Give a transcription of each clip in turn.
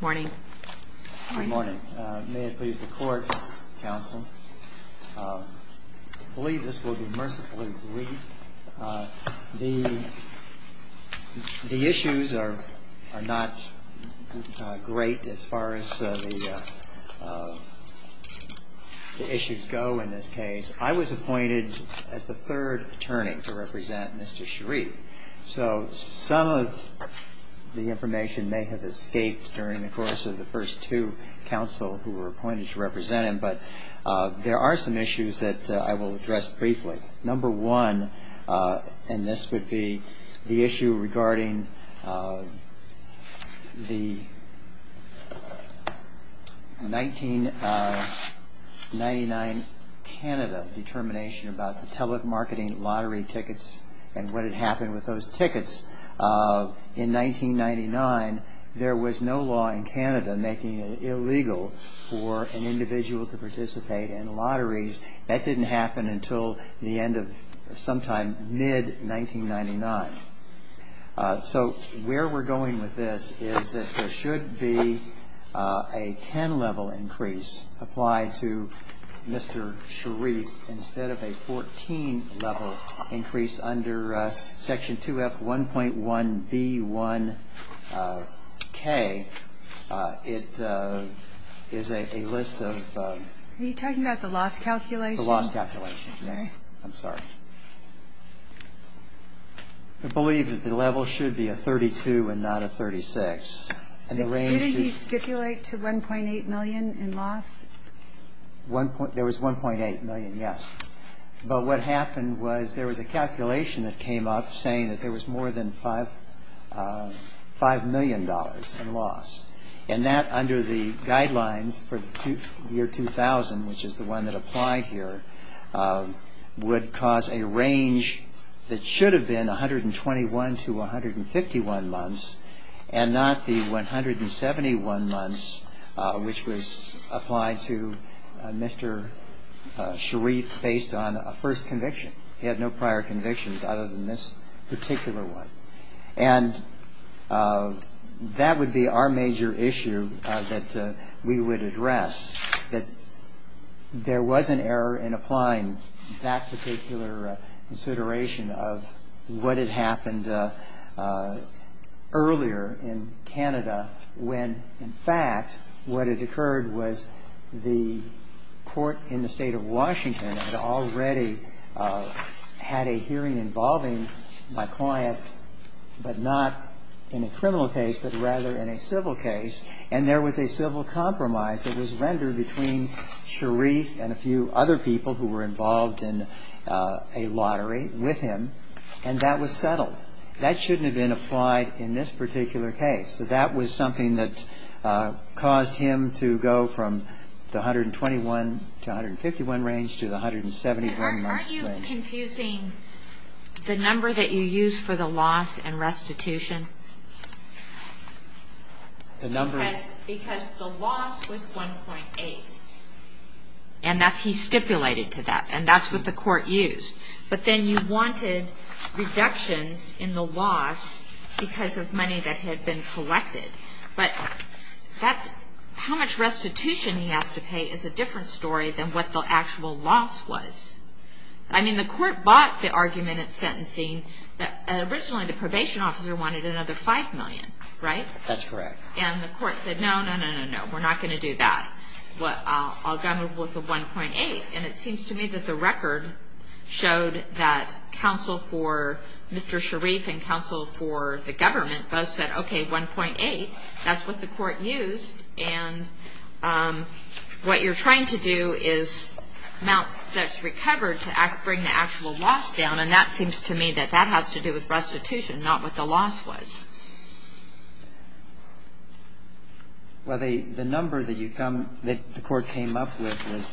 Good morning. May it please the court, counsel. I believe this will be mercifully brief. The issues are not great as far as the issues go in this case. I was appointed as the third attorney to represent Mr. Shareef, so some of the information may have escaped during the course of the first two counsel who were appointed to represent him, but there are some issues that I will address briefly. Number one, and this would be the issue regarding the 1999 Canada determination about the telemarketing lottery tickets and what had happened with those tickets. In 1999, there was no law in Canada making it illegal for an individual to participate in lotteries. That didn't happen until the end of sometime mid-1999. So where we're going with this is that there should be a 10-level increase applied to Mr. Shareef instead of a 14-level increase under Section 2F 1.1b1k. It is a list of... Are you talking about the loss calculation? The loss calculation, yes. I'm sorry. I believe that the level should be a 32 and not a 36. Didn't he stipulate to $1.8 million in loss? There was $1.8 million, yes. But what happened was there was a calculation that came up saying that there was more than $5 million in loss. And that under the guidelines for the year 2000, which is the one that applied here, would cause a range that should have been 121 to 151 months and not the 171 months which was applied to Mr. Shareef based on a first conviction. He had no prior convictions other than this particular one. And that would be our major issue that we would address, that there was an error in applying that particular consideration of what had happened earlier in Canada when, in fact, what had occurred was the court in the State of Washington had already had a hearing involving my client, but not in a criminal case, but rather in a civil case. And there was a civil compromise that was rendered between Shareef and a few other people who were involved in a lottery with him, and that was settled. That shouldn't have been applied in this particular case. So that was something that caused him to go from the 121 to 151 range to the 171 range. And aren't you confusing the number that you used for the loss and restitution? The number? Because the loss was 1.8. And that's he stipulated to that. And that's what the court used. But then you wanted reductions in the loss because of money that had been collected. But how much restitution he has to pay is a different story than what the actual loss was. I mean, the court bought the argument at sentencing that originally the probation officer wanted another 5 million, right? That's correct. And the court said, no, no, no, no, no, we're not going to do that. Well, I'll go with the 1.8. And it seems to me that the record showed that counsel for Mr. Shareef and counsel for the government both said, okay, 1.8, that's what the court used. And what you're trying to do is amounts that's recovered to bring the actual loss down. And that seems to me that that has to do with restitution, not what the loss was. Well, the number that you come, that the court came up with was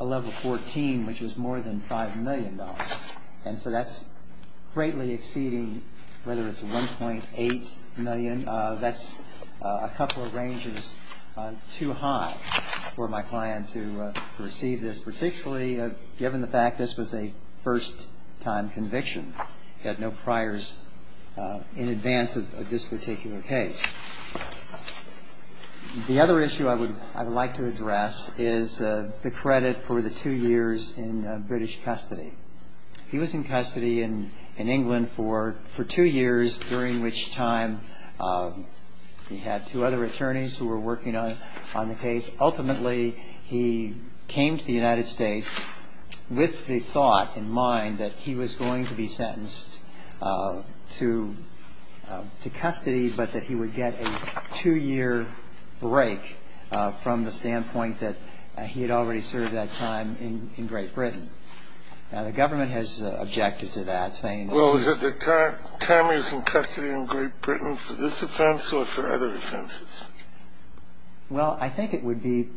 a level 14, which was more than 5 million dollars. And so that's greatly exceeding whether it's 1.8 million. That's a couple of ranges too high for my client to receive this, particularly given the fact this was a first time conviction. He had no priors in advance of this particular case. The other issue I would like to address is the credit for the two years in British custody. He was in custody in England for two years, during which time he had two other attorneys who were working on the case. Ultimately, he came to the United States with the thought in mind that he was going to be sentenced to custody, but that he would get a two-year break from the standpoint that he had already served that time in Great Britain. Now, the government has objected to that, saying that he was… Well, was it the time he was in custody in Great Britain for this offense or for other offenses? Well, I think it would be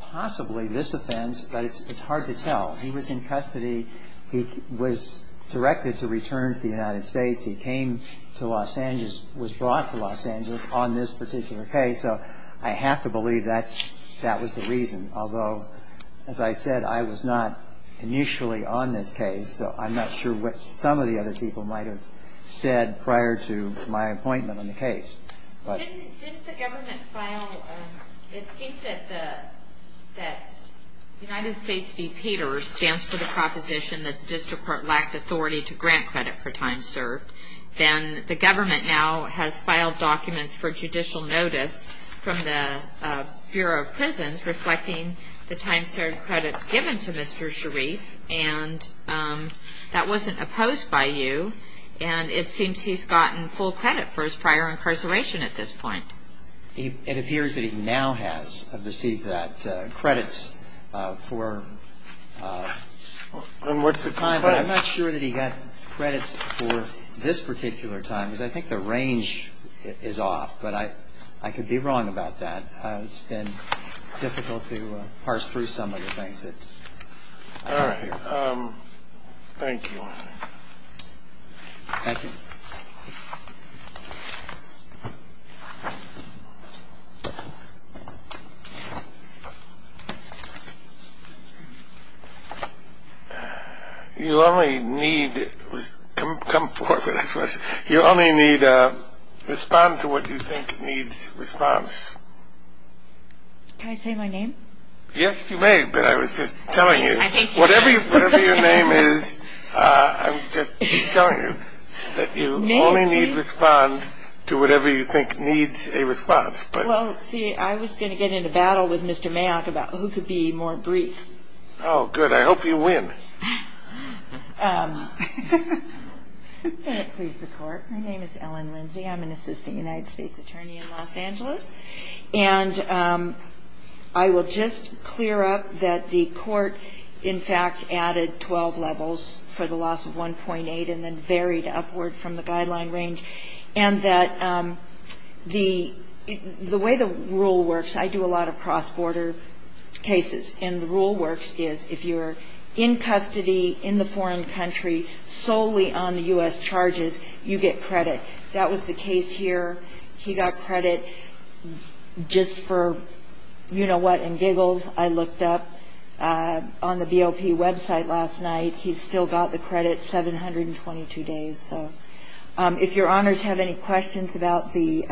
possibly this offense, but it's hard to tell. He was in custody. He was directed to return to the United States. He came to Los Angeles, was brought to Los Angeles on this particular case. So I have to believe that was the reason. Although, as I said, I was not initially on this case, so I'm not sure what some of the other people might have said prior to my appointment on the case. Didn't the government file… It seems that United States v. Peters stands for the proposition that the district court lacked authority to grant credit for time served. Then the government now has filed documents for judicial notice from the Bureau of Prisons reflecting the time served credit given to Mr. Sharif, and that wasn't opposed by you, and it seems he's gotten full credit for his prior incarceration at this point. It appears that he now has received that credits for… And what's the… I'm not sure that he got credits for this particular time, because I think the range is off, but I could be wrong about that. It's been difficult to parse through some of the things that… All right. Thank you. Thank you. You only need… Come forward with a question. You only need to respond to what you think needs response. Can I say my name? Yes, you may, but I was just telling you. Whatever your name is, I'm just telling you that you only need to respond to whatever you think needs a response. Well, let's see. I was going to get into battle with Mr. Mayock about who could be more brief. Oh, good. I hope you win. My name is Ellen Lindsay. I'm an assistant United States attorney in Los Angeles, and I will just clear up that the court, in fact, added 12 levels for the loss of 1.8 and then varied upward from the guideline range, and that the way the rule works, I do a lot of cross-border cases, and the rule works is if you're in custody in the foreign country solely on the U.S. charges, you get credit. That was the case here. He got credit just for, you know what, and giggles. I looked up on the BOP website last night. He still got the credit 722 days. So if Your Honors have any questions about the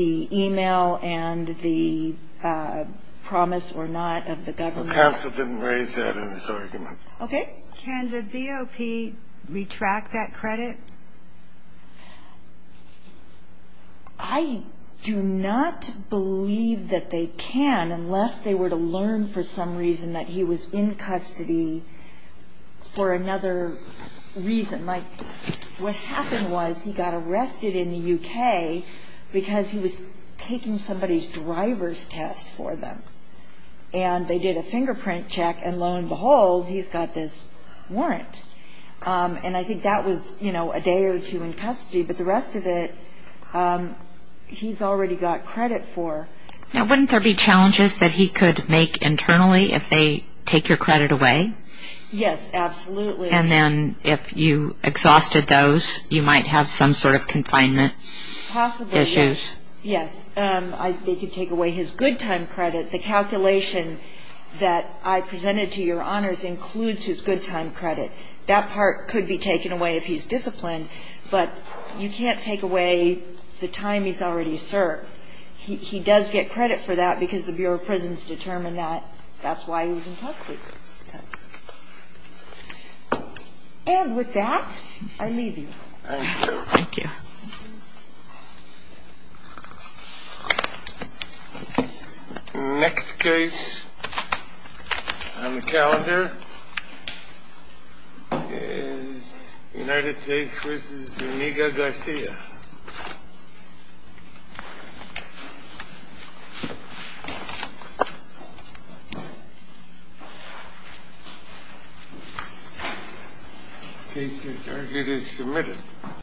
e-mail and the promise or not of the government. The counsel didn't raise that in his argument. Okay. Can the BOP retract that credit? I do not believe that they can unless they were to learn for some reason that he was in custody for another reason. Like what happened was he got arrested in the U.K. because he was taking somebody's driver's test for them, and they did a fingerprint check, and lo and behold, he's got this warrant. And I think that was, you know, a day or two in custody, but the rest of it he's already got credit for. Now, wouldn't there be challenges that he could make internally if they take your credit away? Yes, absolutely. And then if you exhausted those, you might have some sort of confinement issues. Possibly, yes. Yes. I think they could take away his good time credit. The calculation that I presented to Your Honors includes his good time credit. That part could be taken away if he's disciplined, but you can't take away the time he's already served. He does get credit for that because the Bureau of Prisons determined that that's why he was in custody. And with that, I leave you. Thank you. Thank you. The next case on the calendar is United States v. Zuniga-Garcia. The case is submitted.